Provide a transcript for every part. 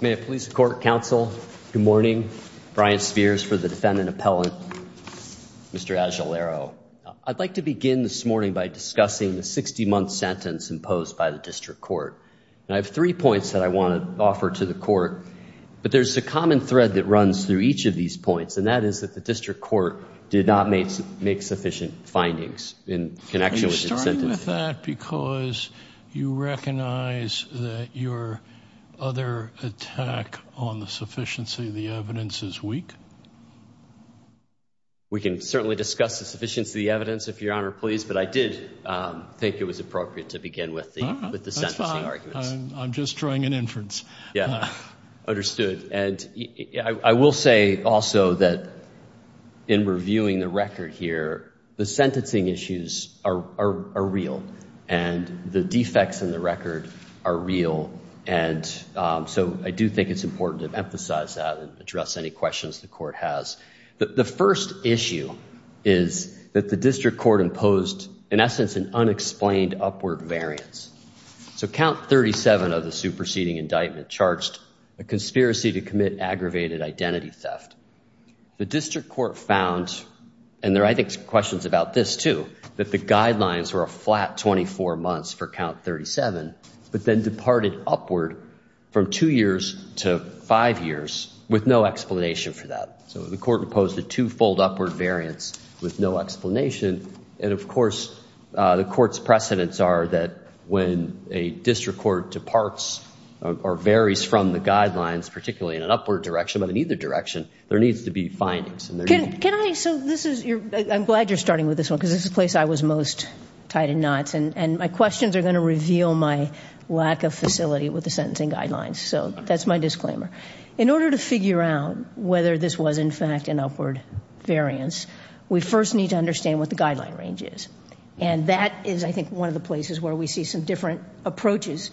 May it please the Court, Counsel. Good morning. Brian Spears for the Defendant Appellant, Mr. Ajelero. I'd like to begin this morning by discussing the 60-month sentence imposed by the District Court. And I have three points that I want to offer to the Court. But there's a common thread that runs through each of these points, and that is that the District Court did not make sufficient findings in connection with the sentence. Do you agree with that because you recognize that your other attack on the sufficiency of the evidence is weak? We can certainly discuss the sufficiency of the evidence, if Your Honor please, but I did think it was appropriate to begin with the sentencing arguments. That's fine. I'm just drawing an inference. Understood. And I will say also that in reviewing the record here, the sentencing issues are real. And the defects in the record are real. And so I do think it's important to emphasize that and address any questions the Court has. The first issue is that the District Court imposed, in essence, an unexplained upward variance. So Count 37 of the superseding indictment charged a conspiracy to commit aggravated identity theft. The District Court found, and there are, I think, questions about this too, that the guidelines were a flat 24 months for Count 37, but then departed upward from two years to five years with no explanation for that. So the Court imposed a two-fold upward variance with no explanation. And, of course, the Court's precedents are that when a District Court departs or varies from the guidelines, particularly in an upward direction but in either direction, there needs to be findings. Can I, so this is, I'm glad you're starting with this one because this is the place I was most tied in knots, and my questions are going to reveal my lack of facility with the sentencing guidelines. So that's my disclaimer. In order to figure out whether this was, in fact, an upward variance, we first need to understand what the guideline range is. And that is, I think, one of the places where we see some different approaches.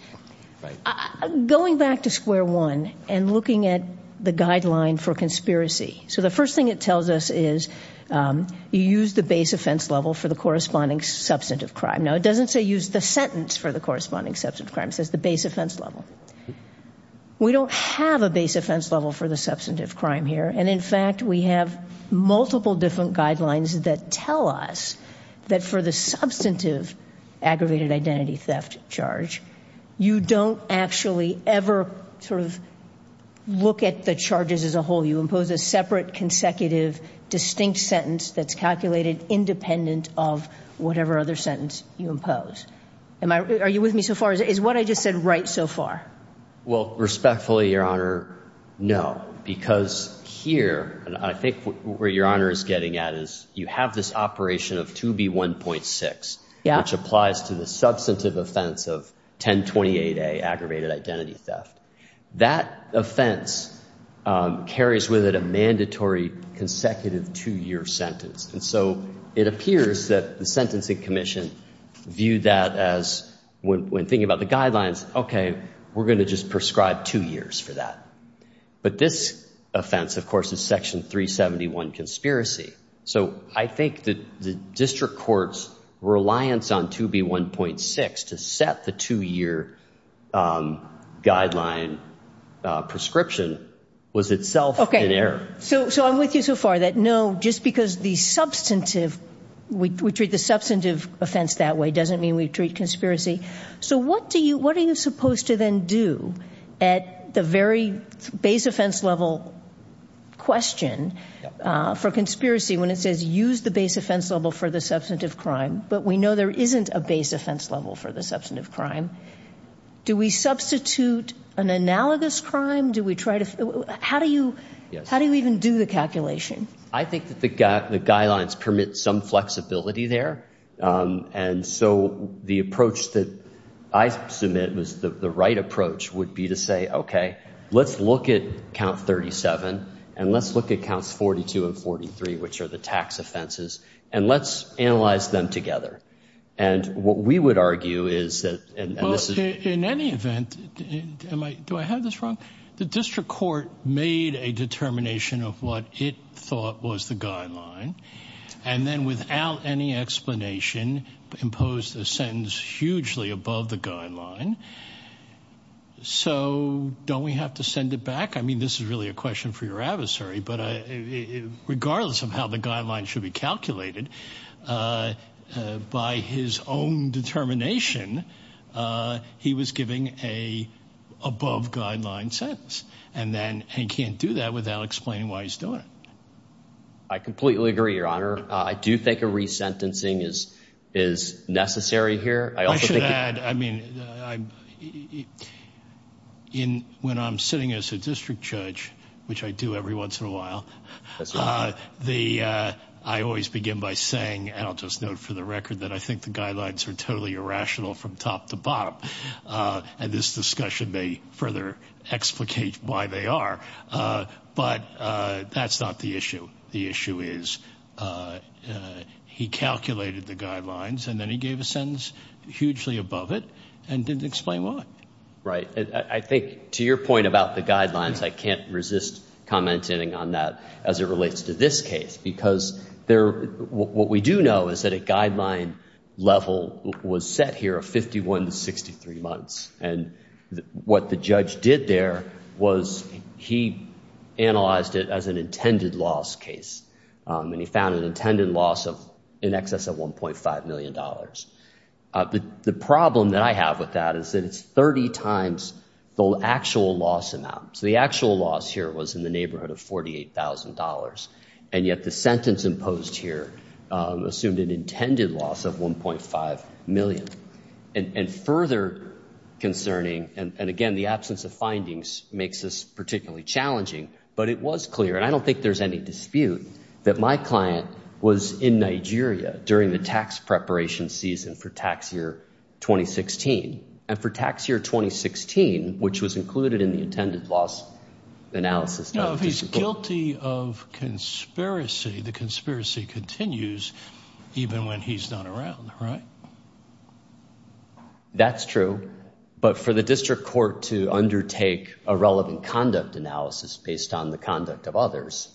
Going back to square one and looking at the guideline for conspiracy. So the first thing it tells us is you use the base offense level for the corresponding substantive crime. Now, it doesn't say use the sentence for the corresponding substantive crime. It says the base offense level. We don't have a base offense level for the substantive crime here. And, in fact, we have multiple different guidelines that tell us that for the substantive aggravated identity theft charge, you don't actually ever sort of look at the charges as a whole. You impose a separate consecutive distinct sentence that's calculated independent of whatever other sentence you impose. Are you with me so far? Is what I just said right so far? Well, respectfully, Your Honor, no. Because here, and I think where Your Honor is getting at is you have this operation of 2B1.6, which applies to the substantive offense of 1028A, aggravated identity theft. That offense carries with it a mandatory consecutive two-year sentence. And so it appears that the Sentencing Commission viewed that as, when thinking about the guidelines, okay, we're going to just prescribe two years for that. But this offense, of course, is Section 371 conspiracy. So I think the district court's reliance on 2B1.6 to set the two-year guideline prescription was itself an error. Okay. So I'm with you so far that, no, just because we treat the substantive offense that way doesn't mean we treat conspiracy. So what are you supposed to then do at the very base offense level question for conspiracy when it says use the base offense level for the substantive crime, but we know there isn't a base offense level for the substantive crime? Do we substitute an analogous crime? How do you even do the calculation? I think that the guidelines permit some flexibility there. And so the approach that I submit was the right approach would be to say, okay, let's look at Count 37 and let's look at Counts 42 and 43, which are the tax offenses, and let's analyze them together. And what we would argue is that this is – In any event, do I have this wrong? The district court made a determination of what it thought was the guideline, and then without any explanation imposed a sentence hugely above the guideline. So don't we have to send it back? I mean, this is really a question for your adversary, but regardless of how the guideline should be calculated, by his own determination, he was giving an above-guideline sentence. And he can't do that without explaining why he's doing it. I completely agree, Your Honor. I do think a resentencing is necessary here. I should add, I mean, when I'm sitting as a district judge, which I do every once in a while, I always begin by saying, and I'll just note for the record, that I think the guidelines are totally irrational from top to bottom, and this discussion may further explicate why they are. But that's not the issue. The issue is he calculated the guidelines, and then he gave a sentence hugely above it and didn't explain why. Right. I think, to your point about the guidelines, I can't resist commenting on that as it relates to this case, because what we do know is that a guideline level was set here of 51 to 63 months. And what the judge did there was he analyzed it as an intended loss case, and he found an intended loss in excess of $1.5 million. The problem that I have with that is that it's 30 times the actual loss amount. So the actual loss here was in the neighborhood of $48,000, and yet the sentence imposed here assumed an intended loss of $1.5 million. And further concerning, and again, the absence of findings makes this particularly challenging, but it was clear, and I don't think there's any dispute, that my client was in Nigeria during the tax preparation season for tax year 2016, and for tax year 2016, which was included in the intended loss analysis. No, if he's guilty of conspiracy, the conspiracy continues even when he's not around, right? That's true. But for the district court to undertake a relevant conduct analysis based on the conduct of others,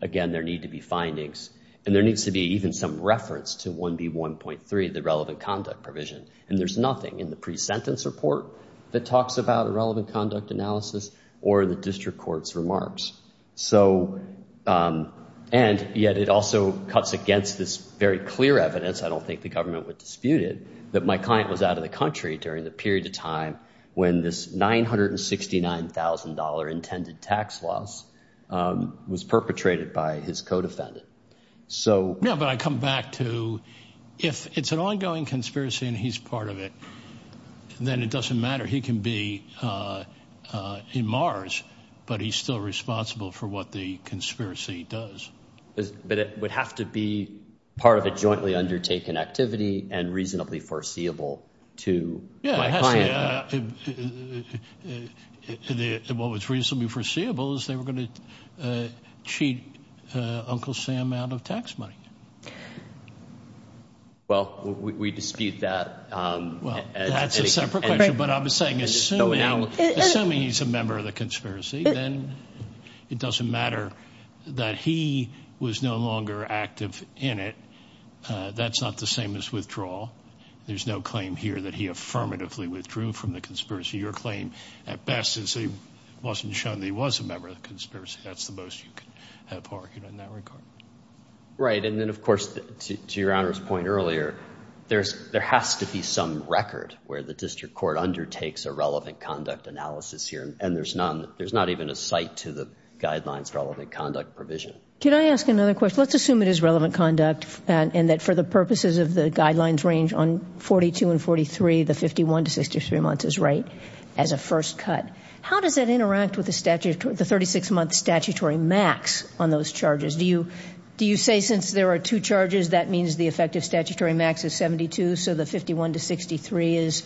again, there need to be findings, and there needs to be even some reference to 1B1.3, the relevant conduct provision. And there's nothing in the pre-sentence report that talks about a relevant conduct analysis or the district court's remarks. And yet it also cuts against this very clear evidence, I don't think the government would dispute it, that my client was out of the country during the period of time when this $969,000 intended tax loss was perpetrated by his co-defendant. No, but I come back to if it's an ongoing conspiracy and he's part of it, then it doesn't matter. He can be in Mars, but he's still responsible for what the conspiracy does. But it would have to be part of a jointly undertaken activity and reasonably foreseeable to my client. What was reasonably foreseeable is they were going to cheat Uncle Sam out of tax money. Well, we dispute that. That's a separate question, but I'm saying assuming he's a member of the conspiracy, then it doesn't matter that he was no longer active in it. That's not the same as withdrawal. There's no claim here that he affirmatively withdrew from the conspiracy. Your claim at best is he wasn't shown that he was a member of the conspiracy. That's the most you could have argued in that regard. Right, and then, of course, to Your Honor's point earlier, there has to be some record where the district court undertakes a relevant conduct analysis here, and there's not even a cite to the guidelines relevant conduct provision. Can I ask another question? Let's assume it is relevant conduct and that for the purposes of the guidelines range on 42 and 43, the 51 to 63 months is right as a first cut. How does that interact with the 36-month statutory max on those charges? Do you say since there are two charges, that means the effective statutory max is 72, so the 51 to 63 is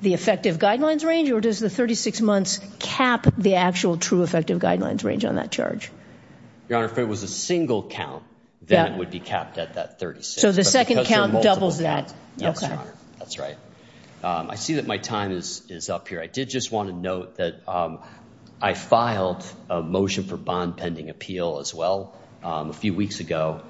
the effective guidelines range, or does the 36 months cap the actual true effective guidelines range on that charge? Your Honor, if it was a single count, then it would be capped at that 36. So the second count doubles that. Yes, Your Honor. That's right. I see that my time is up here. I did just want to note that I filed a motion for bond pending appeal as well a few weeks ago,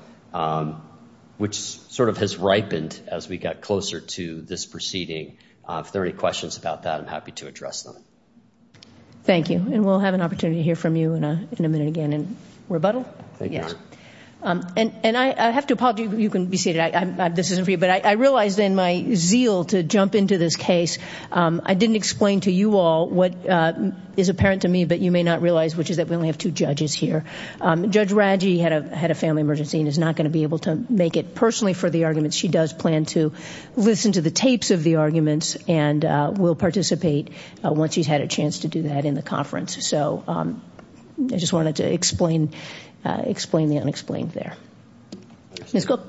which sort of has ripened as we got closer to this proceeding. If there are any questions about that, I'm happy to address them. Thank you, and we'll have an opportunity to hear from you in a minute again. Rebuttal? Thank you, Your Honor. Yes. And I have to apologize. You can be seated. This isn't for you, but I realized in my zeal to jump into this case, I didn't explain to you all what is apparent to me, but you may not realize, which is that we only have two judges here. Judge Radji had a family emergency and is not going to be able to make it personally for the argument. She does plan to listen to the tapes of the arguments and will participate once she's had a chance to do that in the conference. So I just wanted to explain the unexplained there. Ms. Cook.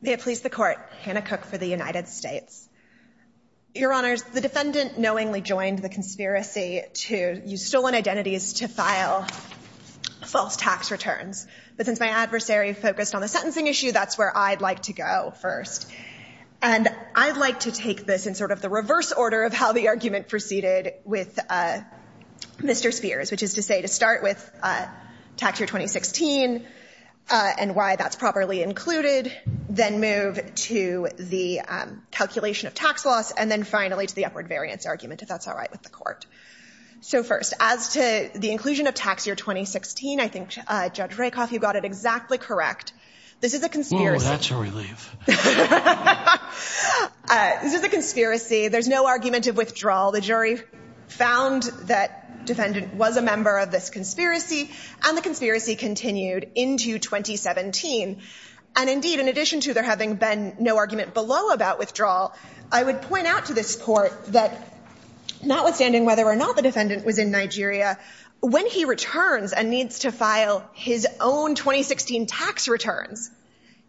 May it please the Court. Hannah Cook for the United States. Your Honors, the defendant knowingly joined the conspiracy to use stolen identities to file false tax returns. But since my adversary focused on the sentencing issue, that's where I'd like to go first. order of how the argument proceeded with Mr. Spears, which is to say to start with tax year 2016 and why that's properly included, then move to the calculation of tax loss, and then finally to the upward variance argument, if that's all right with the Court. So first, as to the inclusion of tax year 2016, I think Judge Rakoff, you got it exactly correct. This is a conspiracy. Oh, that's a relief. This is a conspiracy. There's no argument of withdrawal. The jury found that defendant was a member of this conspiracy, and the conspiracy continued into 2017. And indeed, in addition to there having been no argument below about withdrawal, I would point out to this Court that notwithstanding whether or not the defendant was in Nigeria, when he returns and needs to file his own 2016 tax returns,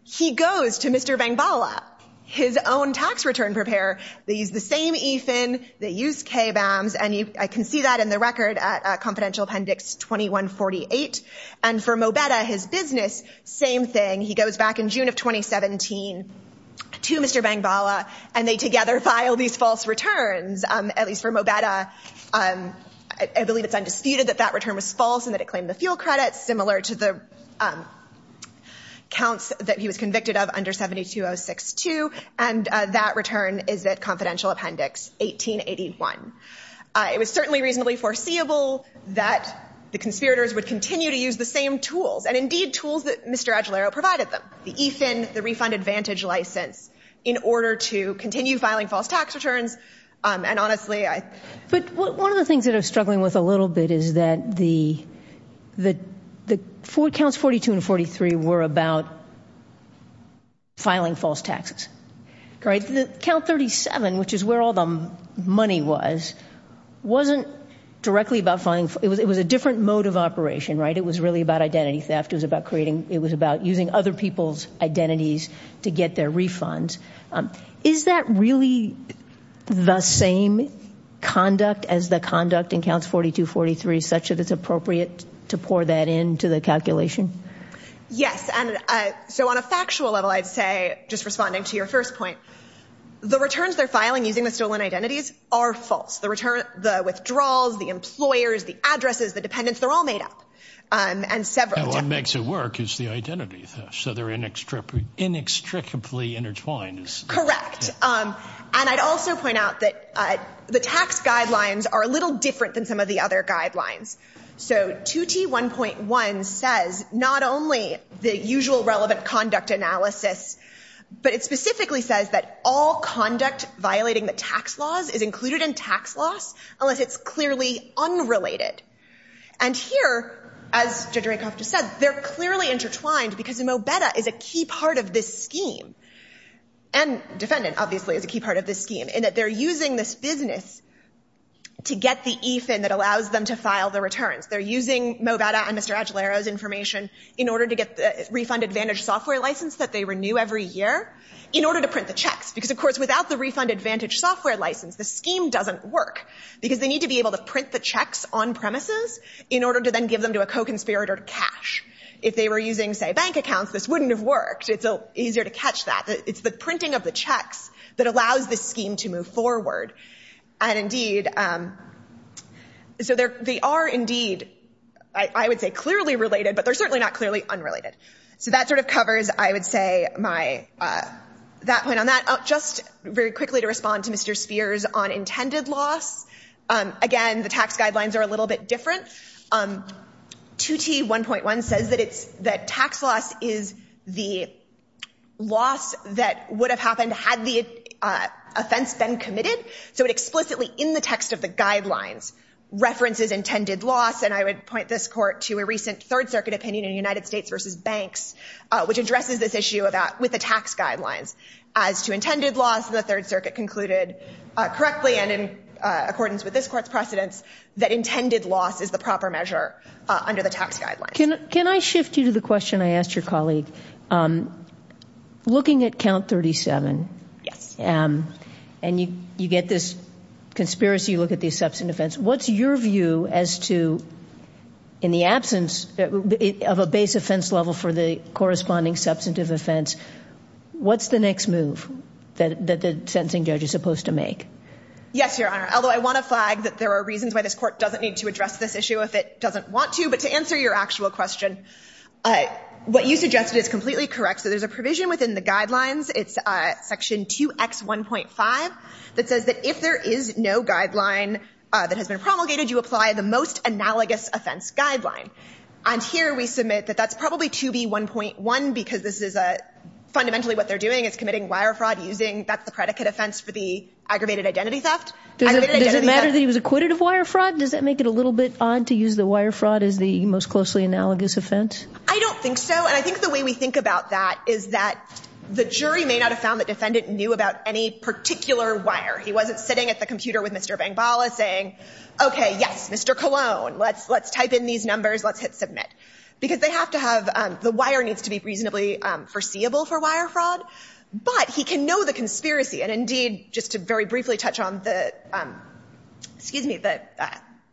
he goes to Mr. Bangbala, his own tax return preparer. They use the same EFIN. They use KBAMs, and I can see that in the record at Confidential Appendix 2148. And for Mobeta, his business, same thing. He goes back in June of 2017 to Mr. Bangbala, and they together file these false returns, at least for Mobeta. I believe it's undisputed that that return was false and that it claimed the fuel credits, similar to the counts that he was convicted of under 72062, and that return is at Confidential Appendix 1881. It was certainly reasonably foreseeable that the conspirators would continue to use the same tools, and indeed tools that Mr. Agilero provided them, the EFIN, the refund advantage license, in order to continue filing false tax returns. And honestly, I... But one of the things that I'm struggling with a little bit is that the counts 42 and 43 were about filing false taxes. Count 37, which is where all the money was, wasn't directly about filing. It was a different mode of operation, right? It was really about identity theft. It was about using other people's identities to get their refunds. Is that really the same conduct as the conduct in counts 42, 43, such that it's appropriate to pour that into the calculation? Yes. And so on a factual level, I'd say, just responding to your first point, the returns they're filing using the stolen identities are false. The return, the withdrawals, the employers, the addresses, the dependents, they're all made up. And several... No, what makes it work is the identity theft. So they're inextricably intertwined. Correct. And I'd also point out that the tax guidelines are a little different than some of the other guidelines. So 2T1.1 says not only the usual relevant conduct analysis, but it specifically says that all conduct violating the tax laws is included in tax loss unless it's clearly unrelated. And here, as Judge Rakoff just said, they're clearly intertwined because MOBETA is a key part of this scheme. And defendant, obviously, is a key part of this scheme, in that they're using this business to get the EFIN that allows them to file the returns. They're using MOBETA and Mr. Aguilero's information in order to get the refund advantage software license that they renew every year in order to print the checks. Because, of course, without the refund advantage software license, the scheme doesn't work because they need to be able to print the checks on premises in order to then give them to a co-conspirator to cash. If they were using, say, bank accounts, this wouldn't have worked. It's easier to catch that. It's the printing of the checks that allows this scheme to move forward. And, indeed, so they are, indeed, I would say clearly related, but they're certainly not clearly unrelated. So that sort of covers, I would say, that point on that. Just very quickly to respond to Mr. Spears on intended loss. Again, the tax guidelines are a little bit different. 2T1.1 says that tax loss is the loss that would have happened had the offense been committed. So it explicitly, in the text of the guidelines, references intended loss. And I would point this Court to a recent Third Circuit opinion in United States v. Banks, which addresses this issue with the tax guidelines. As to intended loss, the Third Circuit concluded correctly and in accordance with this Court's precedents that intended loss is the proper measure under the tax guidelines. Can I shift you to the question I asked your colleague? Looking at count 37, and you get this conspiracy, you look at the substantive offense, what's your view as to, in the absence of a base offense level for the corresponding substantive offense, what's the next move that the sentencing judge is supposed to make? Yes, Your Honor. Although I want to flag that there are reasons why this Court doesn't need to address this issue if it doesn't want to. But to answer your actual question, what you suggested is completely correct. So there's a provision within the guidelines. It's Section 2X1.5 that says that if there is no guideline that has been promulgated, you apply the most analogous offense guideline. And here we submit that that's probably 2B1.1 because this is fundamentally what they're doing, is committing wire fraud using that's the predicate offense for the aggravated identity theft. Does it matter that he was acquitted of wire fraud? Does that make it a little bit odd to use the wire fraud as the most closely analogous offense? I don't think so. And I think the way we think about that is that the jury may not have found the defendant knew about any particular wire. He wasn't sitting at the computer with Mr. Bangbala saying, okay, yes, Mr. Colon, let's type in these numbers. Let's hit submit. Because they have to have the wire needs to be reasonably foreseeable for wire fraud. But he can know the conspiracy. And, indeed, just to very briefly touch on the, excuse me, the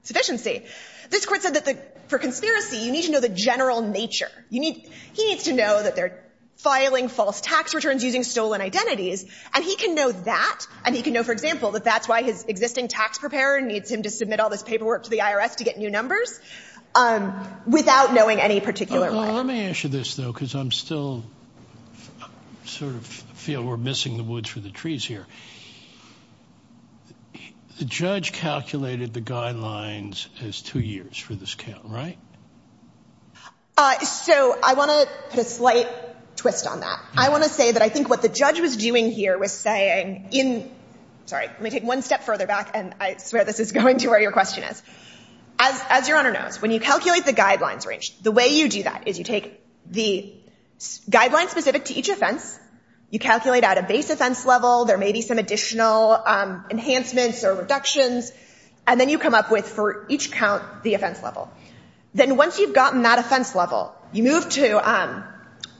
sufficiency, this Court said that for conspiracy, you need to know the general nature. He needs to know that they're filing false tax returns using stolen identities. And he can know that, and he can know, for example, that that's why his existing tax preparer needs him to submit all this paperwork to the IRS to get new numbers without knowing any particular wire. Let me ask you this, though, because I still sort of feel we're missing the wood for the trees here. The judge calculated the guidelines as two years for this count, right? So I want to put a slight twist on that. I want to say that I think what the judge was doing here was saying in, sorry, let me take one step further back, and I swear this is going to where your question is. As your Honor knows, when you calculate the guidelines range, the way you do that is you take the guidelines specific to each offense, you calculate at a base offense level, there may be some additional enhancements or reductions, and then you come up with, for each count, the offense level. Then once you've gotten that offense level, you move to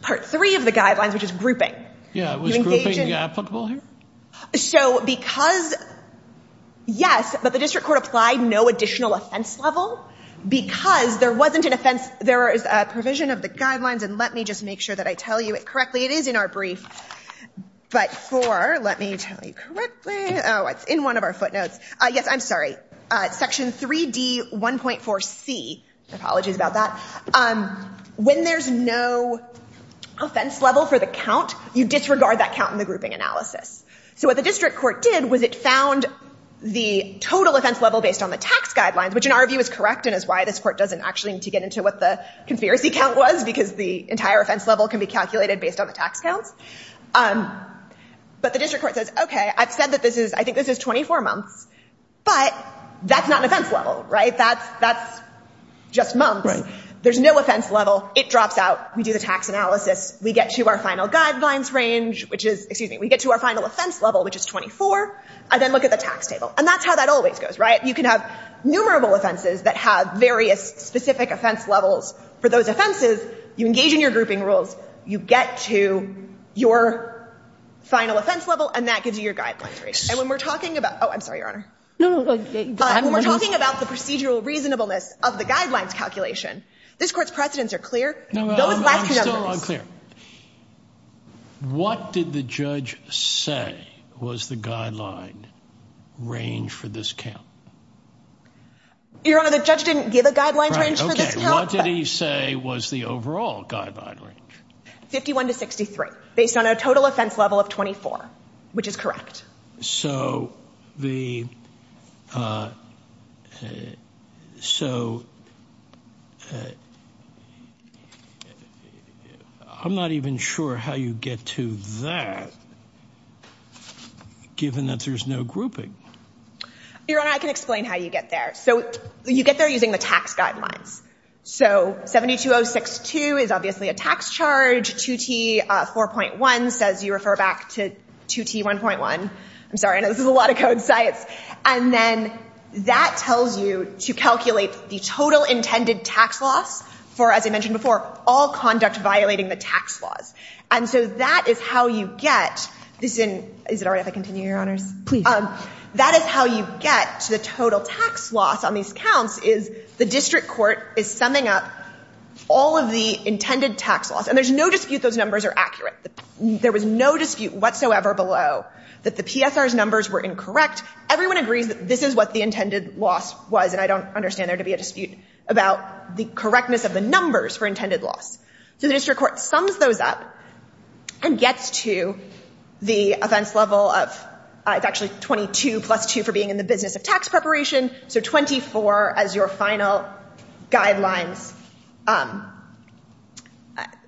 Part 3 of the guidelines, which is grouping. Yeah, was grouping applicable here? So because, yes, but the district court applied no additional offense level because there wasn't an offense, there is a provision of the guidelines, and let me just make sure that I tell you it correctly. It is in our brief, but for, let me tell you correctly, oh, it's in one of our footnotes. Yes, I'm sorry. Section 3D1.4C, apologies about that. When there's no offense level for the count, you disregard that count in the grouping analysis. So what the district court did was it found the total offense level based on the tax guidelines, which in our view is correct and is why this court doesn't actually need to get into what the conspiracy count was because the entire offense level can be calculated based on the tax counts. But the district court says, okay, I've said that this is, I think this is 24 months, but that's not an offense level, right? That's just months. There's no offense level. It drops out. We do the tax analysis. We get to our final guidelines range, which is, excuse me, we get to our final offense level, which is 24, and then look at the tax table. And that's how that always goes, right? You can have numerable offenses that have various specific offense levels. For those offenses, you engage in your grouping rules. You get to your final offense level, and that gives you your guidelines range. And when we're talking about, oh, I'm sorry, Your Honor. When we're talking about the procedural reasonableness of the guidelines calculation, this court's precedents are clear. Those last two numbers. No, I'm still unclear. What did the judge say was the guideline range for this count? Your Honor, the judge didn't give a guideline range for this count. Okay. What did he say was the overall guideline range? 51 to 63 based on a total offense level of 24, which is correct. So the ‑‑ so I'm not even sure how you get to that, given that there's no grouping. Your Honor, I can explain how you get there. So you get there using the tax guidelines. So 72062 is obviously a tax charge. 2T4.1 says you refer back to 2T1.1. I'm sorry. I know this is a lot of code science. And then that tells you to calculate the total intended tax loss for, as I mentioned before, all conduct violating the tax laws. And so that is how you get this in ‑‑ is it all right if I continue, Your Honors? Please. That is how you get to the total tax loss on these counts, is the district court is summing up all of the intended tax loss. And there's no dispute those numbers are accurate. There was no dispute whatsoever below that the PSR's numbers were incorrect. Everyone agrees that this is what the intended loss was, and I don't understand there to be a dispute about the correctness of the numbers for intended loss. So the district court sums those up and gets to the offense level of ‑‑ it's actually 22 plus 2 for being in the business of tax preparation, so 24 as your final guidelines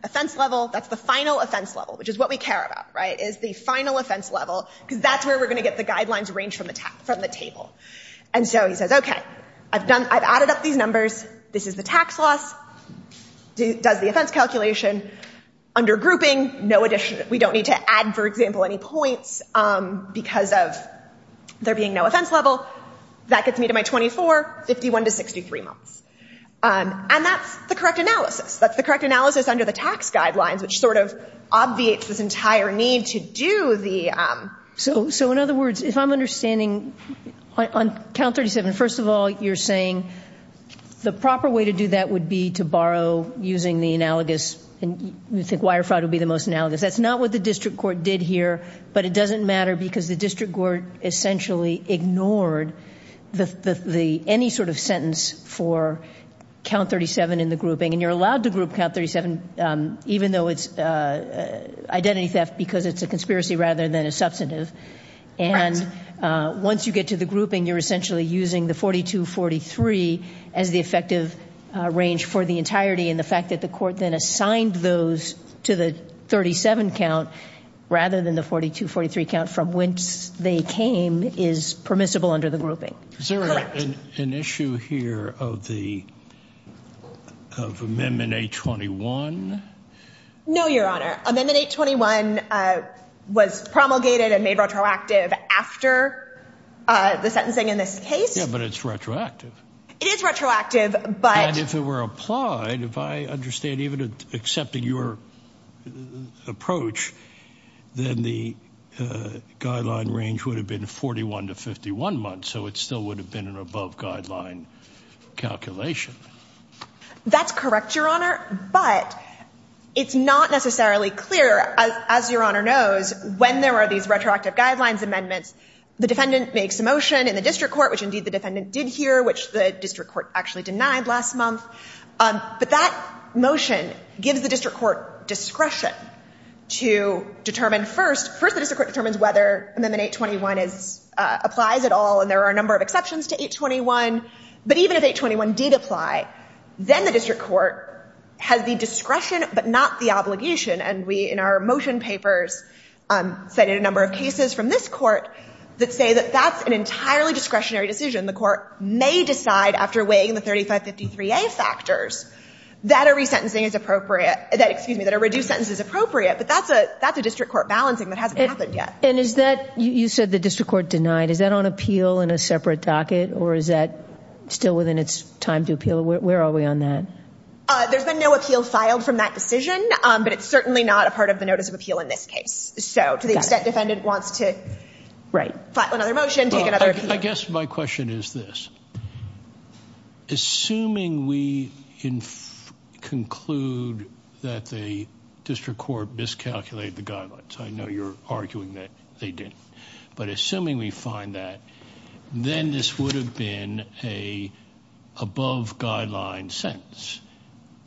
offense level. That's the final offense level, which is what we care about, right, is the final offense level because that's where we're going to get the guidelines arranged from the table. And so he says, okay, I've added up these numbers. This is the tax loss. Does the offense calculation. Under grouping, no addition. We don't need to add, for example, any points because of there being no offense level. That gets me to my 24, 51 to 63 months. And that's the correct analysis. That's the correct analysis under the tax guidelines, which sort of obviates this entire need to do the ‑‑ So, in other words, if I'm understanding on count 37, first of all, you're saying the proper way to do that would be to borrow using the analogous and you think wire fraud would be the most analogous. That's not what the district court did here, but it doesn't matter because the district court essentially ignored any sort of sentence for count 37 in the grouping. And you're allowed to group count 37 even though it's identity theft because it's a conspiracy rather than a substantive. And once you get to the grouping, you're essentially using the 42, 43 as the effective range for the entirety and the fact that the court then assigned those to the 37 count rather than the 42, 43 count from whence they came is permissible under the grouping. Correct. Is there an issue here of the ‑‑ of Amendment 821? No, Your Honor. Amendment 821 was promulgated and made retroactive after the sentencing in this case. Yeah, but it's retroactive. It is retroactive, but ‑‑ And if it were applied, if I understand even accepting your approach, then the guideline range would have been 41 to 51 months, so it still would have been an above guideline calculation. That's correct, Your Honor, but it's not necessarily clear, as Your Honor knows, when there are these retroactive guidelines amendments. The defendant makes a motion in the district court, which indeed the defendant did here, which the district court actually denied last month. But that motion gives the district court discretion to determine first, first the district court determines whether Amendment 821 applies at all and there are a number of exceptions to 821, but even if 821 did apply, then the district court has the discretion but not the obligation and we in our motion papers cited a number of cases from this court that say that that's an entirely discretionary decision. The court may decide after weighing the 3553A factors that a resentencing is appropriate, excuse me, that a reduced sentence is appropriate, but that's a district court balancing that hasn't happened yet. And is that, you said the district court denied, is that on appeal in a separate docket or is that still within its time to appeal? Where are we on that? There's been no appeal filed from that decision, but it's certainly not a part of the notice of appeal in this case. So to the extent defendant wants to file another motion, take another appeal. I guess my question is this. Assuming we conclude that the district court miscalculated the guidelines, I know you're arguing that they didn't, but assuming we find that, then this would have been an above-guideline sentence.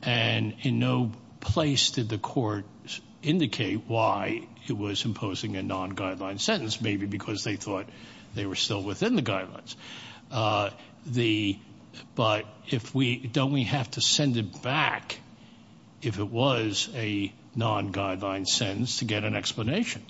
And in no place did the court indicate why it was imposing a non-guideline sentence, maybe because they thought they were still within the guidelines. But don't we have to send it back if it was a non-guideline sentence to get an explanation?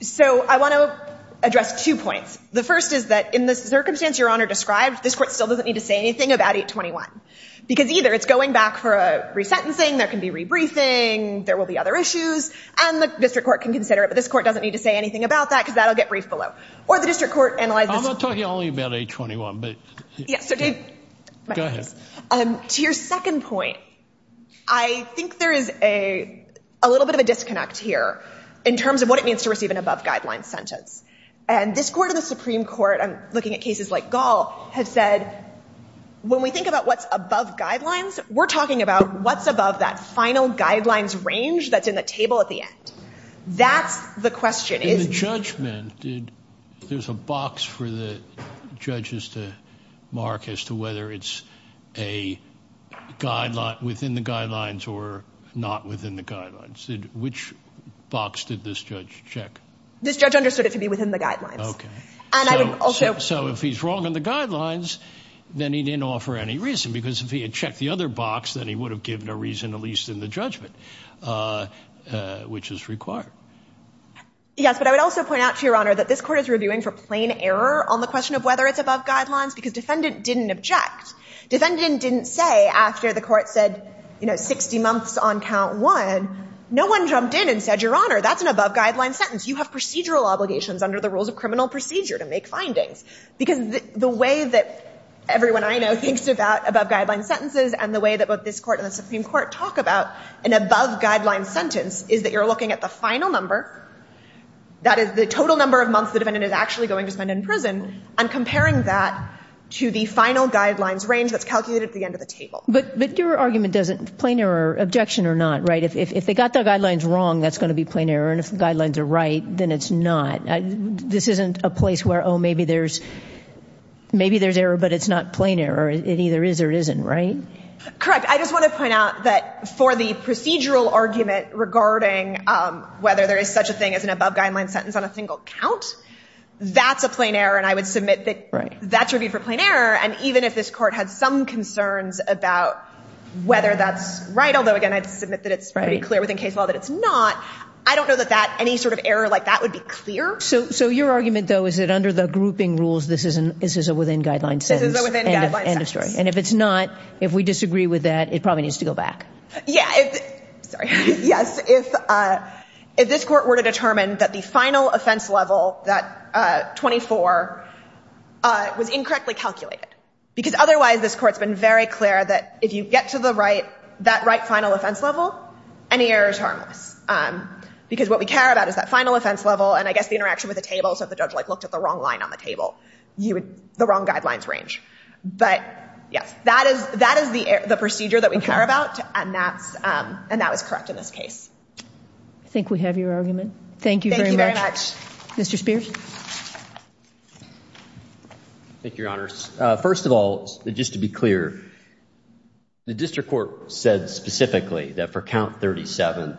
So I want to address two points. The first is that in the circumstance Your Honor described, this court still doesn't need to say anything about 821 because either it's going back for a re-sentencing, there can be re-briefing, there will be other issues, and the district court can consider it, but this court doesn't need to say anything about that because that will get briefed below. Or the district court analyzes it. I'm not talking only about 821, but go ahead. To your second point, I think there is a little bit of a disconnect here. In terms of what it means to receive an above-guideline sentence. And this Court of the Supreme Court, I'm looking at cases like Gall, has said when we think about what's above guidelines, we're talking about what's above that final guidelines range that's in the table at the end. That's the question. In the judgment, there's a box for the judges to mark as to whether it's within the guidelines or not within the guidelines. Which box did this judge check? This judge understood it to be within the guidelines. Okay. So if he's wrong on the guidelines, then he didn't offer any reason because if he had checked the other box, then he would have given a reason, at least in the judgment, which is required. Yes, but I would also point out to Your Honor that this court is reviewing for plain error on the question of whether it's above guidelines because defendant didn't object. Defendant didn't say after the court said, you know, 60 months on count one, no one jumped in and said, Your Honor, that's an above-guideline sentence. You have procedural obligations under the rules of criminal procedure to make findings. Because the way that everyone I know thinks about above-guideline sentences and the way that both this court and the Supreme Court talk about an above-guideline sentence is that you're looking at the final number, that is the total number of months the defendant is actually going to spend in prison, and comparing that to the final guidelines range that's calculated at the end of the table. But your argument doesn't, plain error, objection or not, right? If they got the guidelines wrong, that's going to be plain error, and if the guidelines are right, then it's not. This isn't a place where, oh, maybe there's error, but it's not plain error. It either is or isn't, right? Correct. I just want to point out that for the procedural argument regarding whether there is such a thing as an above-guideline sentence on a single count, that's a plain error, and I would submit that that's reviewed for plain error, and even if this court had some concerns about whether that's right, although, again, I'd submit that it's pretty clear within case law that it's not, I don't know that any sort of error like that would be clear. So your argument, though, is that under the grouping rules this is a within-guideline sentence? This is a within-guideline sentence. End of story. And if it's not, if we disagree with that, it probably needs to go back. Yeah. Sorry. Yes. If this court were to determine that the final offense level, that 24, was incorrectly calculated, because otherwise this court's been very clear that if you get to that right final offense level, any error is harmless. Because what we care about is that final offense level, and I guess the interaction with the table, so if the judge looked at the wrong line on the table, the wrong guidelines range. But, yes, that is the procedure that we care about, and that was correct in this case. I think we have your argument. Thank you very much. Thank you very much. Mr. Spears. Thank you, Your Honors. First of all, just to be clear, the district court said specifically that for count 37,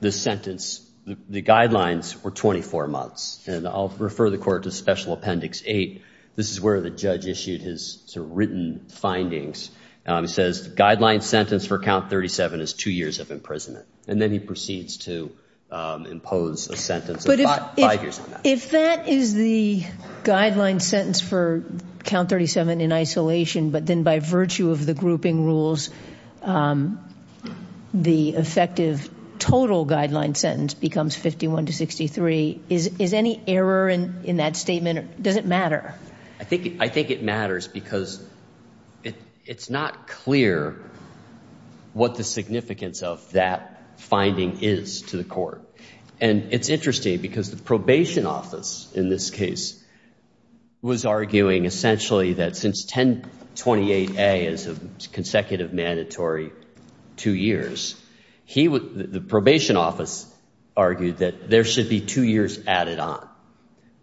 the sentence, the guidelines were 24 months, and I'll refer the court to Special Appendix 8. This is where the judge issued his written findings. He says the guideline sentence for count 37 is two years of imprisonment, and then he proceeds to impose a sentence of five years on that. If that is the guideline sentence for count 37 in isolation, but then by virtue of the grouping rules, the effective total guideline sentence becomes 51 to 63, is any error in that statement? Does it matter? I think it matters because it's not clear what the significance of that finding is to the court. And it's interesting because the probation office in this case was arguing essentially that since 1028A is a consecutive mandatory two years, the probation office argued that there should be two years added on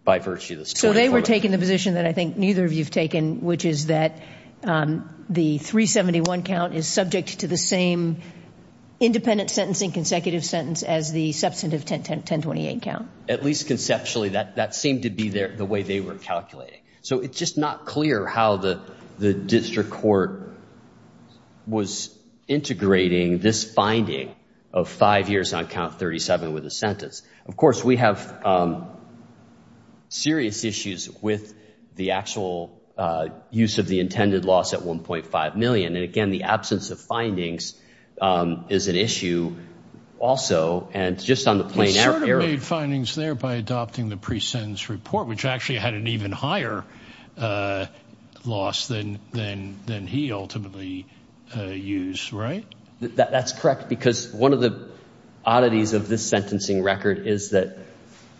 by virtue of this. So they were taking the position that I think neither of you have taken, which is that the 371 count is subject to the same independent sentence and consecutive sentence as the substantive 1028 count. At least conceptually, that seemed to be the way they were calculating. So it's just not clear how the district court was integrating this finding of five years on count 37 with a sentence. Of course, we have serious issues with the actual use of the intended loss at 1.5 million. And, again, the absence of findings is an issue also, and just on the plain error. You made findings there by adopting the pre-sentence report, which actually had an even higher loss than he ultimately used, right? That's correct because one of the oddities of this sentencing record is that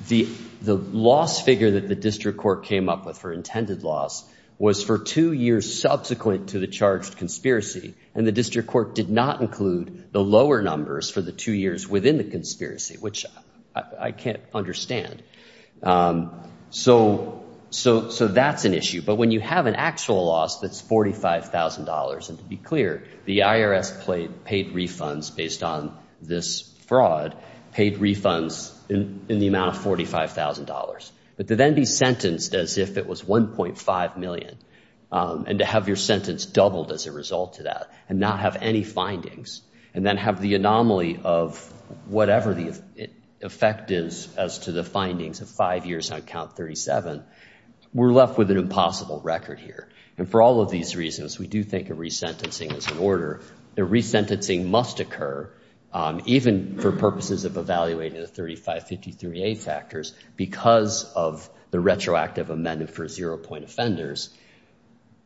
the loss figure that the district court came up with for intended loss was for two years subsequent to the charged conspiracy. And the district court did not include the lower numbers for the two years within the conspiracy, which I can't understand. So that's an issue. But when you have an actual loss that's $45,000, and to be clear, the IRS paid refunds based on this fraud, paid refunds in the amount of $45,000. But to then be sentenced as if it was 1.5 million and to have your sentence doubled as a result of that and not have any findings and then have the anomaly of whatever the effect is as to the findings of five years on count 37, we're left with an impossible record here. And for all of these reasons, we do think of resentencing as an order. The resentencing must occur even for purposes of evaluating the 3553A factors because of the retroactive amendment for zero-point offenders.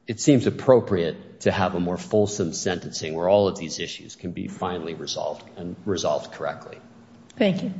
It seems appropriate to have a more fulsome sentencing where all of these issues can be finally resolved and resolved correctly. Thank you.